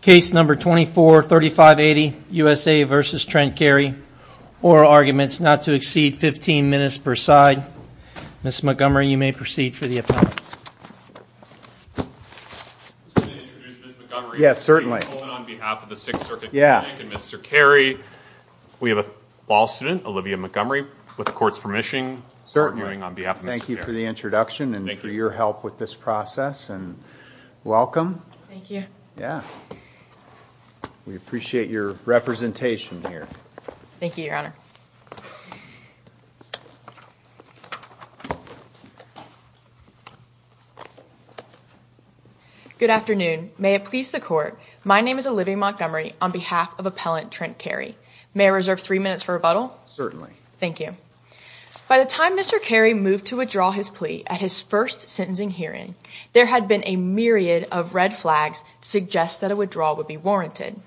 case number 24 3580 USA versus Trent Carey oral arguments not to exceed 15 minutes per side. Ms. Montgomery you may proceed for the appellate. We have a law student Olivia Montgomery with the court's permission. Thank you for the introduction and your help with this process and welcome. We appreciate your representation here. Thank you your honor. Good afternoon may it please the court my name is Olivia Montgomery on behalf of appellant Trent Carey. May I reserve three minutes for rebuttal? Certainly. Thank you. By the time Mr. Carey moved to withdraw his plea at his first sentencing hearing there had been a myriad of red flags to suggest that a withdrawal would be warranted.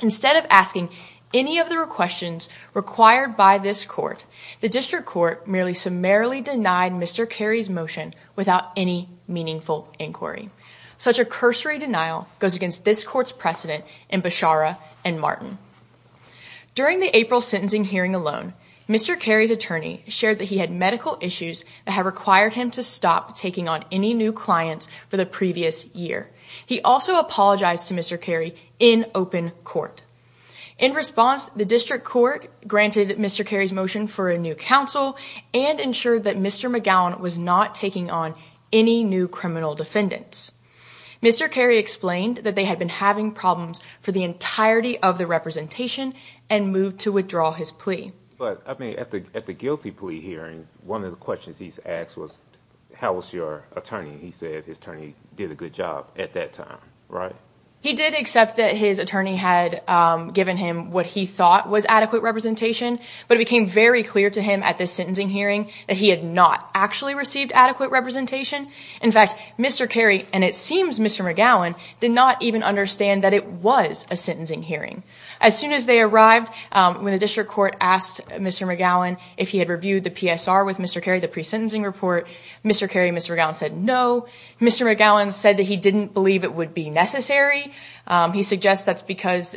Instead of asking any of the questions required by this court the district court merely summarily denied Mr. Carey's motion without any meaningful inquiry. Such a cursory denial goes against this court's precedent in Beshara and Martin. During the April sentencing hearing alone Mr. Carey's attorney shared that he had medical issues that have required him to stop taking on any new clients for the previous year. He also apologized to Mr. Carey in open court. In response the district court granted Mr. Carey's motion for a new counsel and ensured that Mr. McGowan was not taking on any new criminal defendants. Mr. Carey explained that they had been having problems for the entirety of the representation and moved to withdraw his plea. But I mean at the guilty plea hearing one of the questions he's asked was how was your attorney he said his attorney did a good job at that time right? He did accept that his attorney had given him what he thought was adequate representation but it became very clear to him at this sentencing hearing that he had not actually received adequate representation. In fact Mr. Carey and it seems Mr. McGowan did not even understand that it was a sentencing hearing. As soon as they arrived when the district court asked Mr. McGowan if he had reviewed the PSR with Mr. Carey the pre-sentencing report Mr. Carey and Mr. McGowan said no. Mr. McGowan said that he didn't believe it would be necessary. He suggests that's because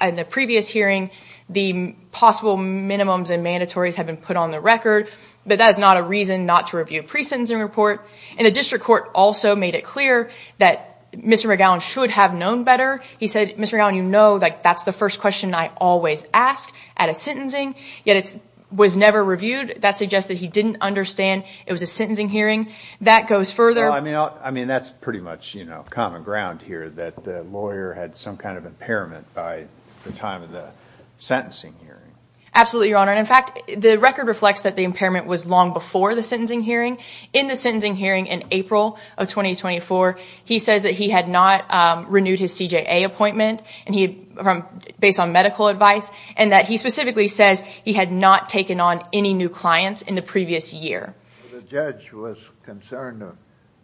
in the previous hearing the possible minimums and mandatories have been put on the record but that is not a reason not to review a pre-sentencing report. And the district court also made it clear that Mr. McGowan should have known better. He said Mr. McGowan you know that that's the first question I always ask at a sentencing yet it was never reviewed that suggested he didn't understand it was a sentencing hearing. That goes further. I mean that's pretty much you know common ground here that the lawyer had some kind of impairment by the time of the sentencing hearing. Absolutely your honor and in fact the record reflects that the impairment was long before the sentencing hearing. In the sentencing hearing in April of 2024 he says that he had not renewed his CJA appointment and he from based on medical advice and that he specifically says he had not taken on any new clients in the previous year. The judge was concerned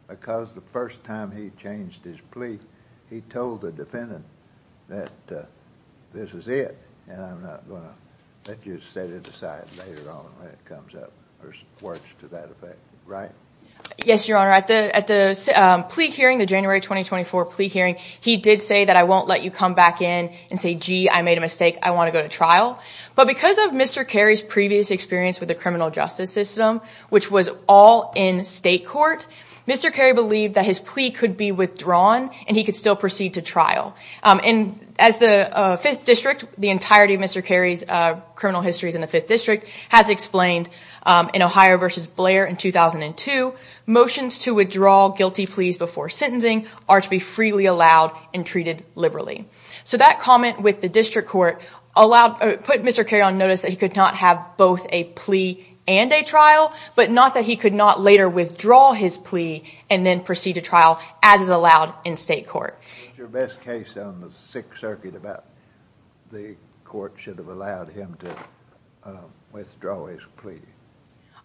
because the first time he changed his plea he told the defendant that this is it and I'm not gonna let you set it aside later on when it comes up or works to that effect right? Yes your honor at the at the plea hearing the January 2024 plea hearing he did say that I won't let you come back in and say gee I made a mistake I want to go to trial but because of Mr. Carey's previous experience with the criminal justice system which was all in state court Mr. Carey believed that his plea could be withdrawn and he could still proceed to trial and as the 5th District the entirety of Mr. Carey's criminal histories in the 5th District has explained in Ohio versus Blair in 2002 motions to withdraw guilty pleas before sentencing are to be freely allowed and treated liberally. So that comment with the district court allowed put Mr. Carey on notice that he could not have both a plea and a trial but not that he could not later withdraw his plea and then proceed to trial as is allowed in state court. What's your best case on the 6th Circuit about the court should have allowed him to withdraw his plea?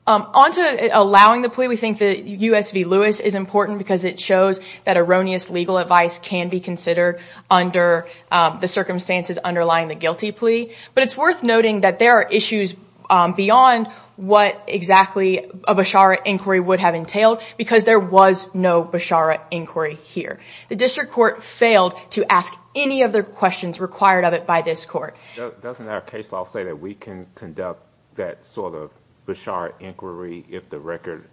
Onto allowing the plea we think that U.S. v. Lewis is important because it shows that erroneous legal advice can be considered under the circumstances underlying the guilty plea but it's worth noting that there are issues beyond what exactly a Beshara inquiry would have entailed because there was no Beshara inquiry here. The district court failed to ask any of the questions required of it by this court. Doesn't our case law say that we can conduct that sort of Beshara inquiry if the record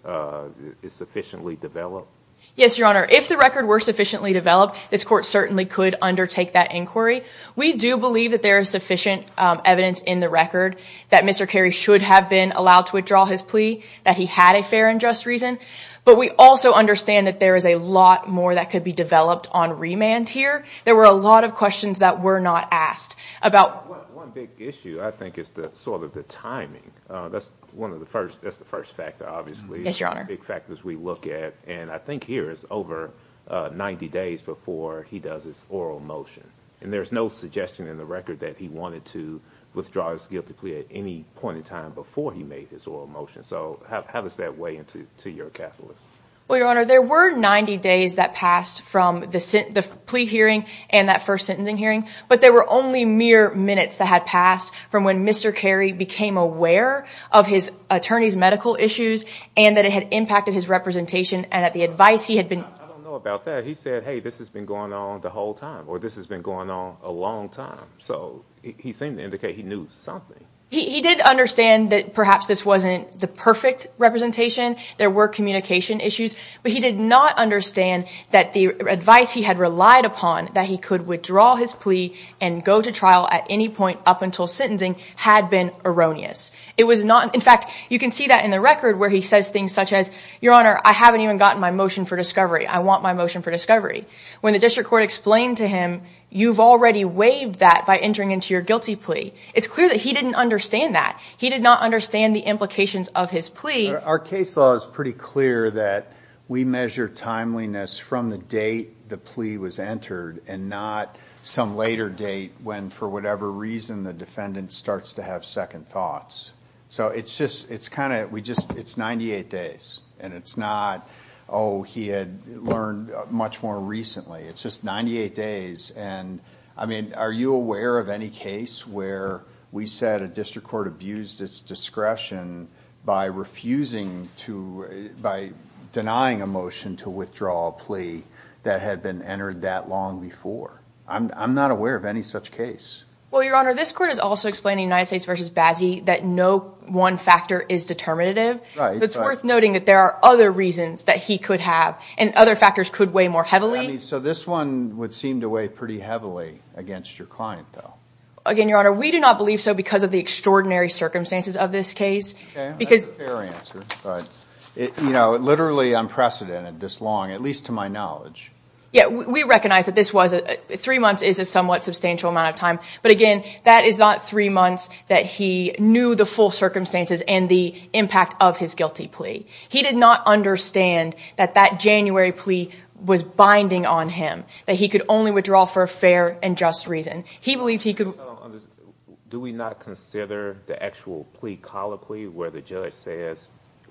is sufficiently developed? Yes your honor if the record were sufficiently developed this court certainly could undertake that inquiry. We do believe that there is sufficient evidence in the record that Mr. Carey should have been allowed to withdraw his plea that he had a fair and just reason but we also understand that there is a lot more that could be developed on remand here. There were a lot of questions that were not asked about. One big issue I think is the sort of the timing. That's one of the first that's the first factor obviously. Yes your honor. The big factors we look at and I think here is over 90 days before he does his oral motion and there's no suggestion in the record that he wanted to withdraw his guilty plea at any point in time before he made his oral motion. So have us that way into to your calculus. Well your honor there were 90 days that passed from the plea hearing and that first sentencing hearing but there were only mere minutes that had passed from when Mr. Carey became aware of his attorney's medical issues and that it had impacted his representation and at the advice he had been. I don't know about that. He said hey this has been going on the whole time or this has been going on a long time. So he seemed to indicate he knew something. He did understand that perhaps this wasn't the perfect representation. There were communication issues but he did not understand that the advice he had relied upon that he could withdraw his plea and go to trial at any point up until sentencing had been erroneous. It was not in fact you can see that in the record where he says things such as your honor I haven't even gotten my motion for discovery. I want my motion for discovery. When the district court explained to him you've already waived that by entering into your guilty plea. It's clear that he didn't understand that. He did not understand the implications of his plea. Our case law is pretty clear that we measure timeliness from the date the plea was entered and not some later date when for whatever reason the defendant starts to have second thoughts. So it's just it's kind of we just it's 98 days and it's not oh he had learned much more recently. It's just 98 days and I mean are you aware of any case where we said a district court abused its discretion by refusing to by denying a motion to withdraw a plea that had been entered that long before? I'm not aware of any such case. Well your honor this court is also explaining United States v. Bazzi that no one factor is determinative. It's worth noting that there are other reasons that he could have and other factors could weigh more heavily. So this one would seem to weigh pretty heavily against your client though. Again your honor we do not believe so because of the extraordinary circumstances of this case. You know literally unprecedented this long at least to my knowledge. Yeah we recognize that this was a three months is a somewhat substantial amount of time but again that is not three months that he knew the full circumstances and the impact of his guilty plea. He did not understand that that January plea was binding on him that he could only withdraw for a fair and just reason. He believed he could. Do we not consider the actual plea colloquy where the judge says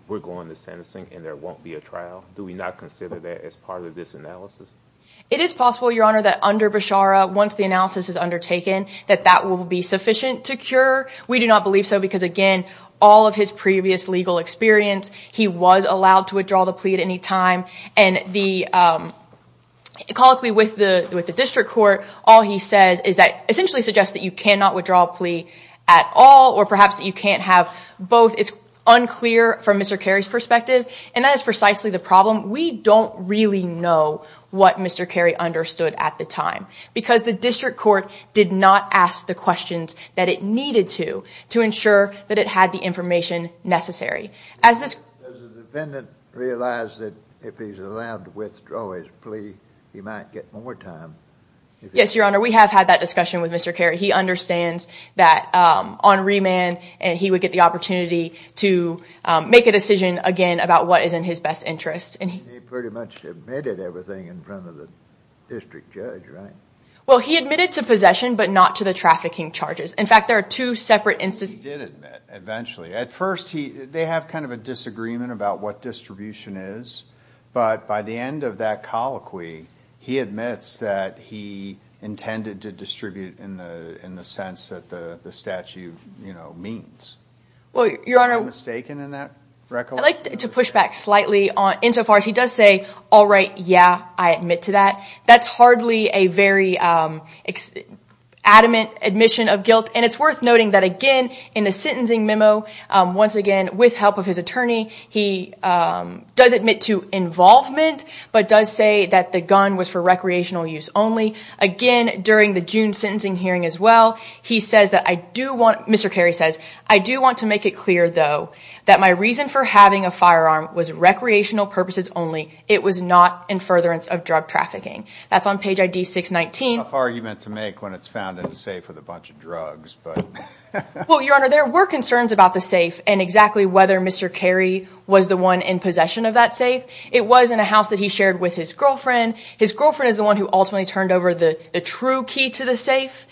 we're going to sentencing and there won't be a trial? Do we not consider that as part of this analysis? It is possible your honor that under Beshara once the analysis is undertaken that that will be sufficient to cure. We do not believe so because again all of his previous legal experience he was allowed to withdraw the plea at any time and the colloquy with the with the district court all he says is that essentially suggests that you cannot have both. It's unclear from Mr. Carey's perspective and that is precisely the problem. We don't really know what Mr. Carey understood at the time because the district court did not ask the questions that it needed to to ensure that it had the information necessary. Does the defendant realize that if he's allowed to withdraw his plea he might get more time? Yes your honor we have had that discussion with Mr. Carey. He would get the opportunity to make a decision again about what is in his best interest and he pretty much admitted everything in front of the district judge. Well he admitted to possession but not to the trafficking charges. In fact there are two separate instances. He did admit eventually. At first he they have kind of a disagreement about what distribution is but by the end of that colloquy he admits that he intended to distribute in the in the sense that the the statute you know means. I like to push back slightly on insofar as he does say all right yeah I admit to that. That's hardly a very adamant admission of guilt and it's worth noting that again in the sentencing memo once again with help of his attorney he does admit to involvement but does say that the gun was for recreational use only. Again during the June sentencing hearing as well he says that I do want Mr. Carey says I do want to make it clear though that my reason for having a firearm was recreational purposes only it was not in furtherance of drug trafficking. That's on page ID 619. It's a tough argument to make when it's found in a safe with a bunch of drugs. Well your honor there were concerns about the safe and exactly whether Mr. Carey was the one in possession of that safe. It was in a house that he shared with his girlfriend. His girlfriend is the one who ultimately turned over the true key to the safe.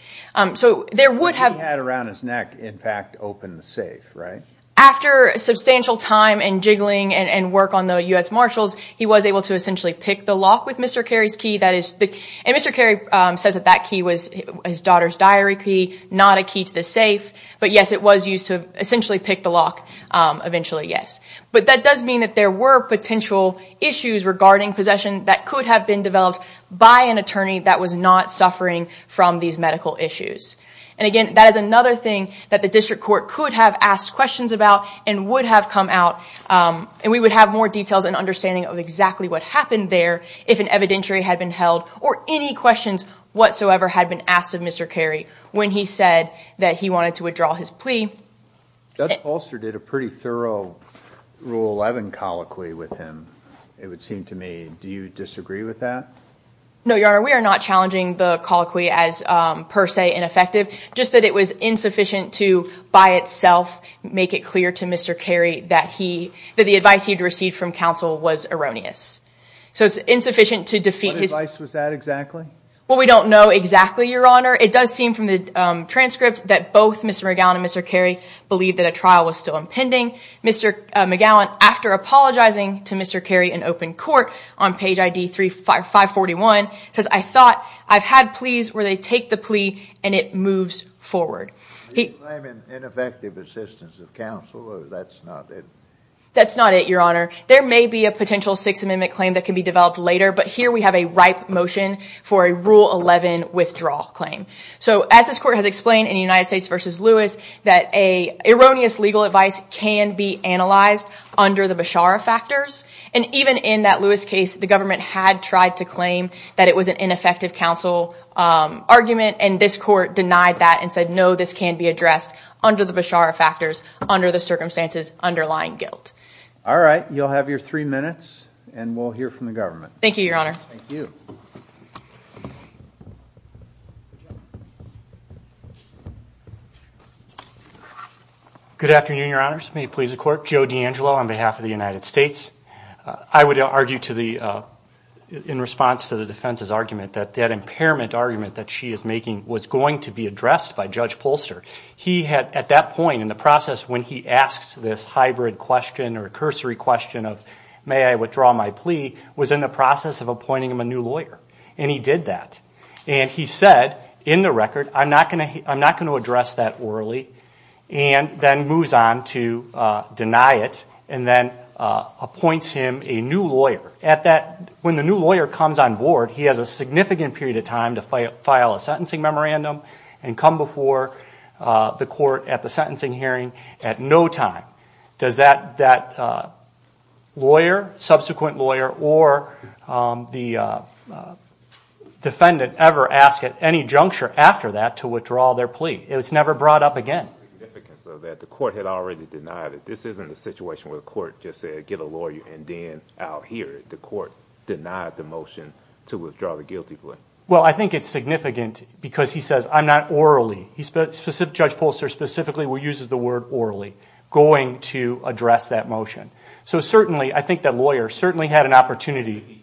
So there would have had around his neck in fact open the safe right? After substantial time and jiggling and work on the US Marshals he was able to essentially pick the lock with Mr. Carey's key that is the and Mr. Carey says that that key was his daughter's diary key not a key to the safe but yes it was used to essentially pick the lock eventually yes. But that does mean that there were potential issues regarding possession that could have been developed by an attorney that was not suffering from these medical issues. And again that is another thing that the district court could have asked questions about and would have come out and we would have more details and understanding of exactly what happened there if an evidentiary had been held or any questions whatsoever had been asked of Mr. Carey when he said that he wanted to withdraw his plea. Judge Polster did a pretty thorough rule 11 colloquy with him. It would seem to me do you disagree with that? No your honor we are not challenging the colloquy as per se ineffective just that it was insufficient to by itself make it clear to Mr. Carey that he that the advice he'd received from counsel was erroneous. So it's insufficient to defeat his... What advice was that exactly? Well we don't know exactly your honor it does seem from the transcript that both Mr. McGowan and Mr. Carey believed that a trial was still impending. Mr. McGowan after apologizing to Mr. Carey in open court on page ID 355 41 says I thought I've had pleas where they take the plea and it moves forward. Are you claiming ineffective assistance of counsel or that's not it? That's not it your honor. There may be a potential Sixth Amendment claim that can be developed later but here we have a ripe motion for a rule 11 withdrawal claim. So as this court has in the United States versus Lewis that a erroneous legal advice can be analyzed under the Beshara factors and even in that Lewis case the government had tried to claim that it was an ineffective counsel argument and this court denied that and said no this can be addressed under the Beshara factors under the circumstances underlying guilt. All right you'll have your three minutes and we'll hear from the government. Thank you your honor. Good afternoon your honors. May it please the court. Joe D'Angelo on behalf of the United States. I would argue to the in response to the defense's argument that that impairment argument that she is making was going to be addressed by Judge Polster. He had at that point in the process when he asks this hybrid question or a cursory question of may I withdraw my plea was in the process of appointing him a new lawyer and he did that and he said in the record I'm not going to address that orally and then moves on to deny it and then appoints him a new lawyer. When the new lawyer comes on board he has a significant period of time to file a sentencing memorandum and come before the court at the sentencing hearing at no time. Does that lawyer, subsequent It's never brought up again. Well I think it's significant because he says I'm not orally he's specific Judge Polster specifically we uses the word orally going to address that motion. So certainly I think that lawyer certainly had an opportunity.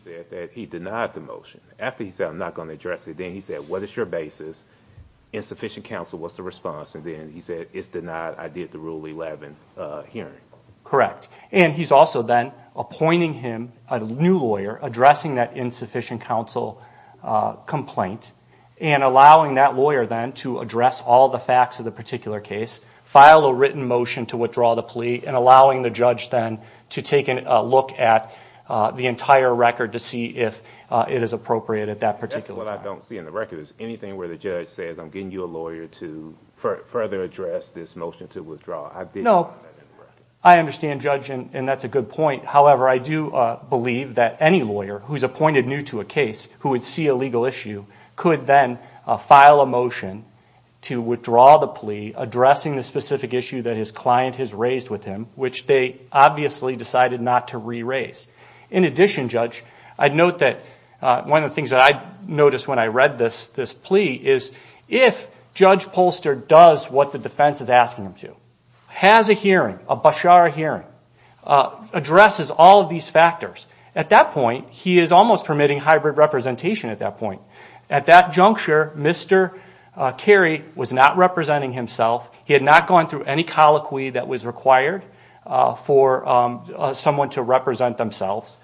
Insufficient counsel what's the response and then he said it's denied I did the rule 11 hearing. Correct and he's also then appointing him a new lawyer addressing that insufficient counsel complaint and allowing that lawyer then to address all the facts of the particular case, file a written motion to withdraw the plea and allowing the judge then to take a look at the entire record to see if it is appropriate at that particular time. The only thing I don't see in the record is anything where the judge says I'm getting you a lawyer to further address this motion to withdraw. No I understand judge and that's a good point however I do believe that any lawyer who's appointed new to a case who would see a legal issue could then file a motion to withdraw the plea addressing the specific issue that his client has raised with him which they obviously decided not to re-raise. In I read this this plea is if Judge Polster does what the defense is asking him to, has a hearing, a Beshara hearing, addresses all of these factors at that point he is almost permitting hybrid representation at that point. At that juncture Mr. Carey was not representing himself he had not gone through any colloquy that was required for someone to represent themselves.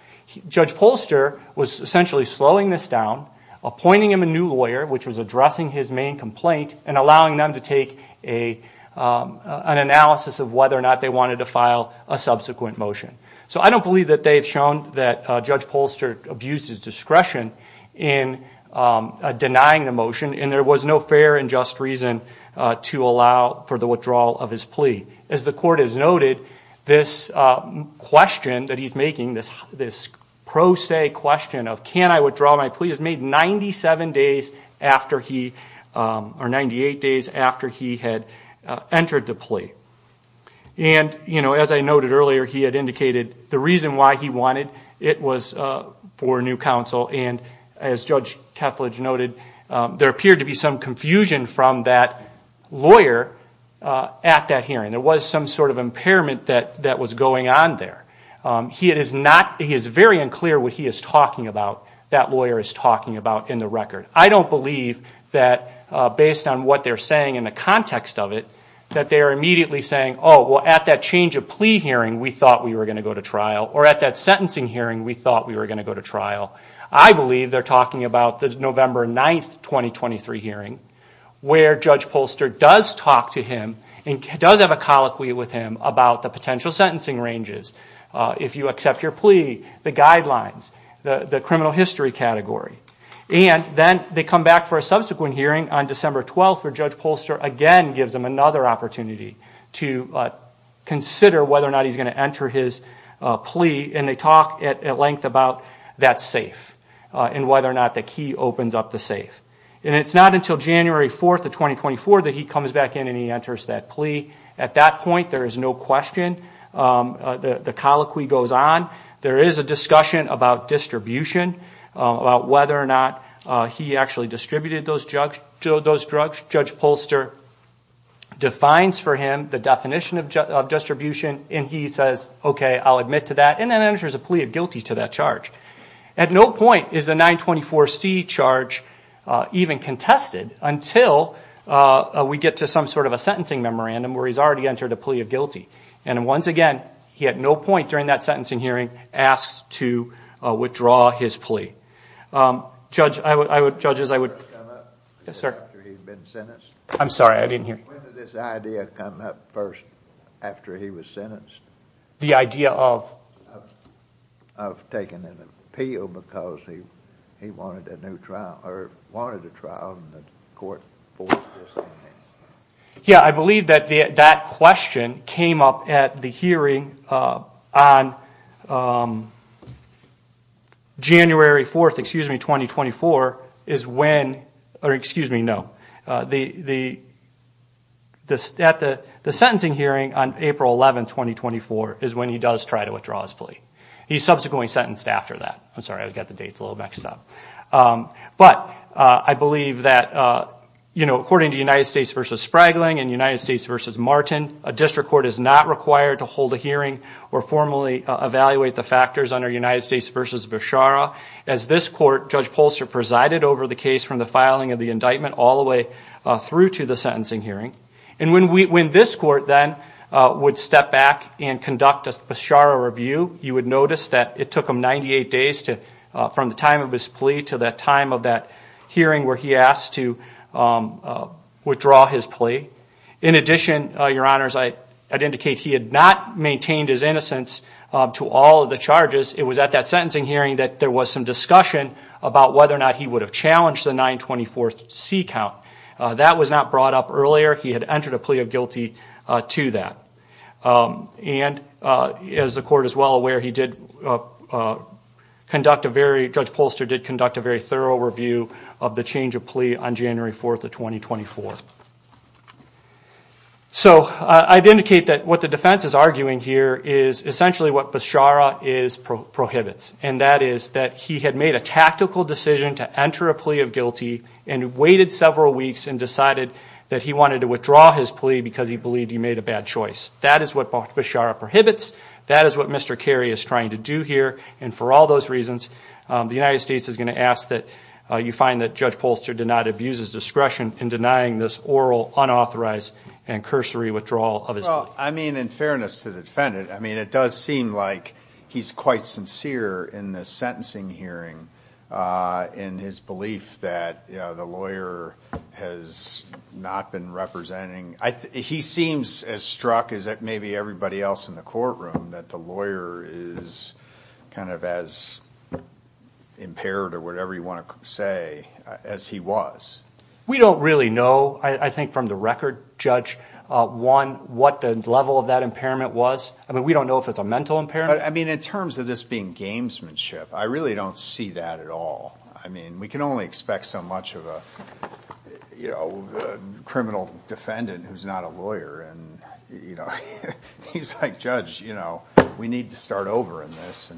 Judge Polster was essentially slowing this down appointing him a new lawyer which was addressing his main complaint and allowing them to take an analysis of whether or not they wanted to file a subsequent motion. So I don't believe that they've shown that Judge Polster abused his discretion in denying the motion and there was no fair and just reason to allow for the withdrawal of his plea. As the court has noted this question that he's making this pro se question of can I withdraw my plea is made 97 days after he or 98 days after he had entered the plea. And you know as I noted earlier he had indicated the reason why he wanted it was for new counsel and as Judge Kethledge noted there appeared to be some confusion from that lawyer at that hearing. There was some sort of impairment that that was going on there. He is very unclear what he is talking about that lawyer is talking about in the record. I don't believe that based on what they're saying in the context of it that they are immediately saying oh well at that change of plea hearing we thought we were going to go to trial or at that sentencing hearing we thought we were going to go to trial. I believe they're talking about the November 9th 2023 hearing where Judge Polster does talk to him and does have a colloquy with him about the potential sentencing ranges if you accept your plea, the guidelines, the criminal history category. And then they come back for a subsequent hearing on December 12th where Judge Polster again gives him another opportunity to consider whether or not he's going to enter his plea and they talk at length about that safe and whether or not the key opens up the safe. And it's not until January 4th of 2024 that he comes back in and he enters that plea. At that point there is no question the colloquy goes on. There is a discussion about distribution about whether or not he actually distributed those drugs. Judge Polster defines for him the definition of distribution and he says okay I'll admit to that and then enters a plea of guilty to that charge. At no point is the 924 C charge even contested until we get to some sort of a sentencing memorandum where he's already entered a plea of guilty. And once again he had no point during that sentencing hearing asked to withdraw his plea. When did this idea come up first after he was sentenced? The idea of? Of taking an appeal because he wanted a new trial or wanted a trial and the court forced his plea. Yeah I believe that that question came up at the sentencing hearing on January 4th excuse me 2024 is when or excuse me no the this at the the sentencing hearing on April 11th 2024 is when he does try to withdraw his plea. He's subsequently sentenced after that. I'm sorry I've got the dates a little mixed up. But I believe that you know according to United States versus Spragling and United States versus Martin a district court is not required to hold a hearing or formally evaluate the factors under United States versus Beshara. As this court Judge Pulser presided over the case from the filing of the indictment all the way through to the sentencing hearing. And when we when this court then would step back and conduct a Beshara review you would notice that it took him 98 days to from the time of his plea to that time of that hearing where he asked to withdraw his plea. In addition your honors I'd indicate he had not maintained his innocence to all of the charges. It was at that sentencing hearing that there was some discussion about whether or not he would have challenged the 924 C count. That was not brought up earlier he had entered a plea of guilty to that. And as the court is well aware he did conduct a very Judge Pulser did conduct a very thorough review of the change of plea on January 4th of 2024. So I'd indicate that what the defense is arguing here is essentially what Beshara is prohibits. And that is that he had made a tactical decision to enter a plea of guilty and waited several weeks and decided that he wanted to withdraw his plea because he believed he made a bad choice. That is what Beshara prohibits. That is what Mr. Kerry is trying to do here and for all those reasons the United States is going to ask that you find that Judge Pulser did not abuse his discretion in denying this oral unauthorized and cursory withdrawal of his plea. Well I mean in fairness to the defendant I mean it does seem like he's quite sincere in the sentencing hearing in his belief that you know the lawyer has not been representing. He seems as struck as that maybe everybody else in the courtroom that the lawyer is kind of as impaired or whatever you want to say as he was. We don't really know I think from the record Judge, one what the level of that impairment was. I mean we don't know if it's a mental impairment. I mean in terms of this being gamesmanship I really don't see that at all. I mean we can only expect so much of a you know criminal defendant who's not a lawyer and you know he's like judge you know we need to start over in this.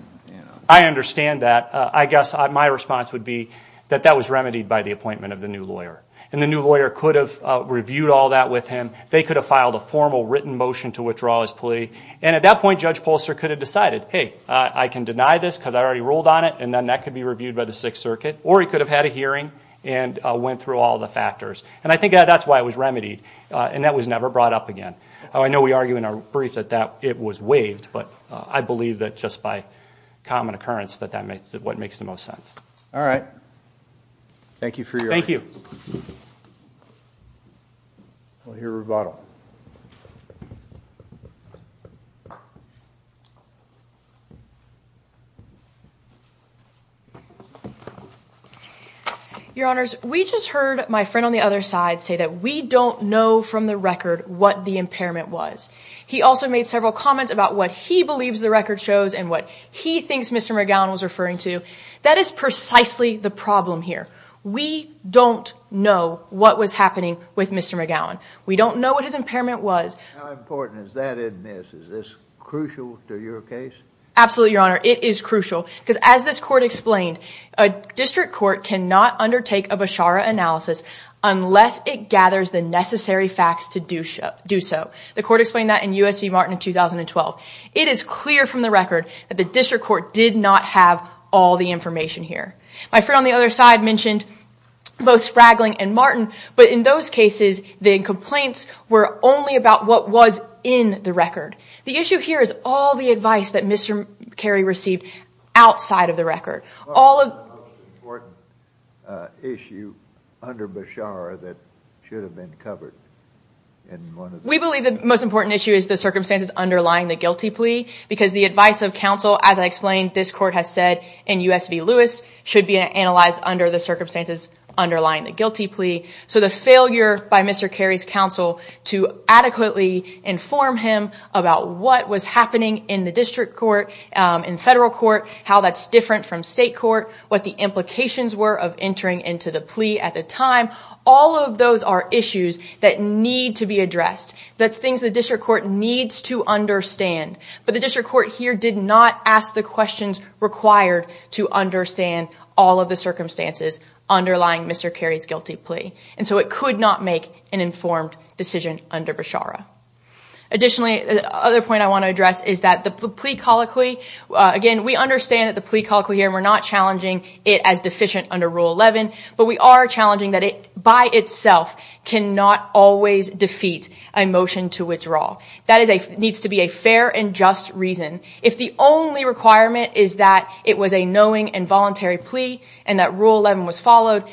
I understand that. I guess my response would be that that was remedied by the appointment of the new lawyer and the new lawyer could have reviewed all that with him. They could have filed a formal written motion to withdraw his plea and at that point Judge Pulser could have decided hey I can deny this because I already ruled on it and then that could be reviewed by the Sixth Circuit or he could have had a hearing and went through all the factors and I think that's why it was remedied and that was never brought up again. I believe that just by common occurrence that that makes it what makes the most sense. All right. Thank you for your time. Thank you. We'll hear rebuttal. Your Honors, we just heard my friend on the other side say that we don't know from the record what the impairment was. He also made several comments about what he believes the record shows and what he thinks Mr. McGowan was referring to. That is precisely the problem here. We don't know what was happening with Mr. McGowan. We don't know what his impairment was. How important is that in this? Is this crucial to your case? Absolutely, Your Honor. It is crucial because as this court explained a district court cannot undertake a Beshara analysis unless it gathers the necessary facts to do so. The It is clear from the record that the district court did not have all the information here. My friend on the other side mentioned both Spragling and Martin but in those cases the complaints were only about what was in the record. The issue here is all the advice that Mr. Carey received outside of the record. All of the most important issue under Beshara that should have been covered. We believe the most important issue is the circumstances underlying the guilty plea because the advice of counsel as I explained this court has said in US v Lewis should be analyzed under the circumstances underlying the guilty plea. So the failure by Mr. Carey's counsel to adequately inform him about what was happening in the district court, in federal court, how that's different from state court, what the implications were of entering into the plea at the time. All of those are issues that need to be addressed. That's things the district court needs to understand but the district court here did not ask the questions required to understand all of the circumstances underlying Mr. Carey's guilty plea and so it could not make an informed decision under Beshara. Additionally the other point I want to address is that the plea colloquy again we understand that the plea colloquy here we're not challenging it as under rule 11 but we are challenging that it by itself cannot always defeat a motion to withdraw. That needs to be a fair and just reason. If the only requirement is that it was a knowing and voluntary plea and that rule 11 was followed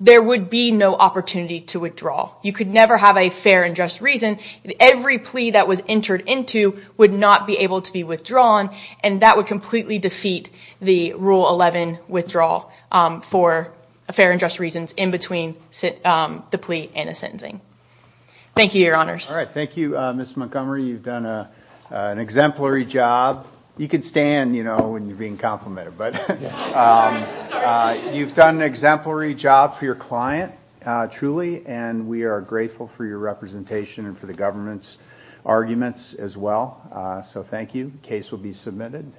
there would be no opportunity to withdraw. You could never have a fair and just reason. Every plea that was entered into would not be able to be for a fair and just reasons in between the plea and a sentencing. Thank you, your honors. All right, thank you, Ms. Montgomery. You've done an exemplary job. You can stand, you know, when you're being complimented but you've done an exemplary job for your client, truly, and we are grateful for your representation and for the government's arguments as well. So thank you. Case will be submitted.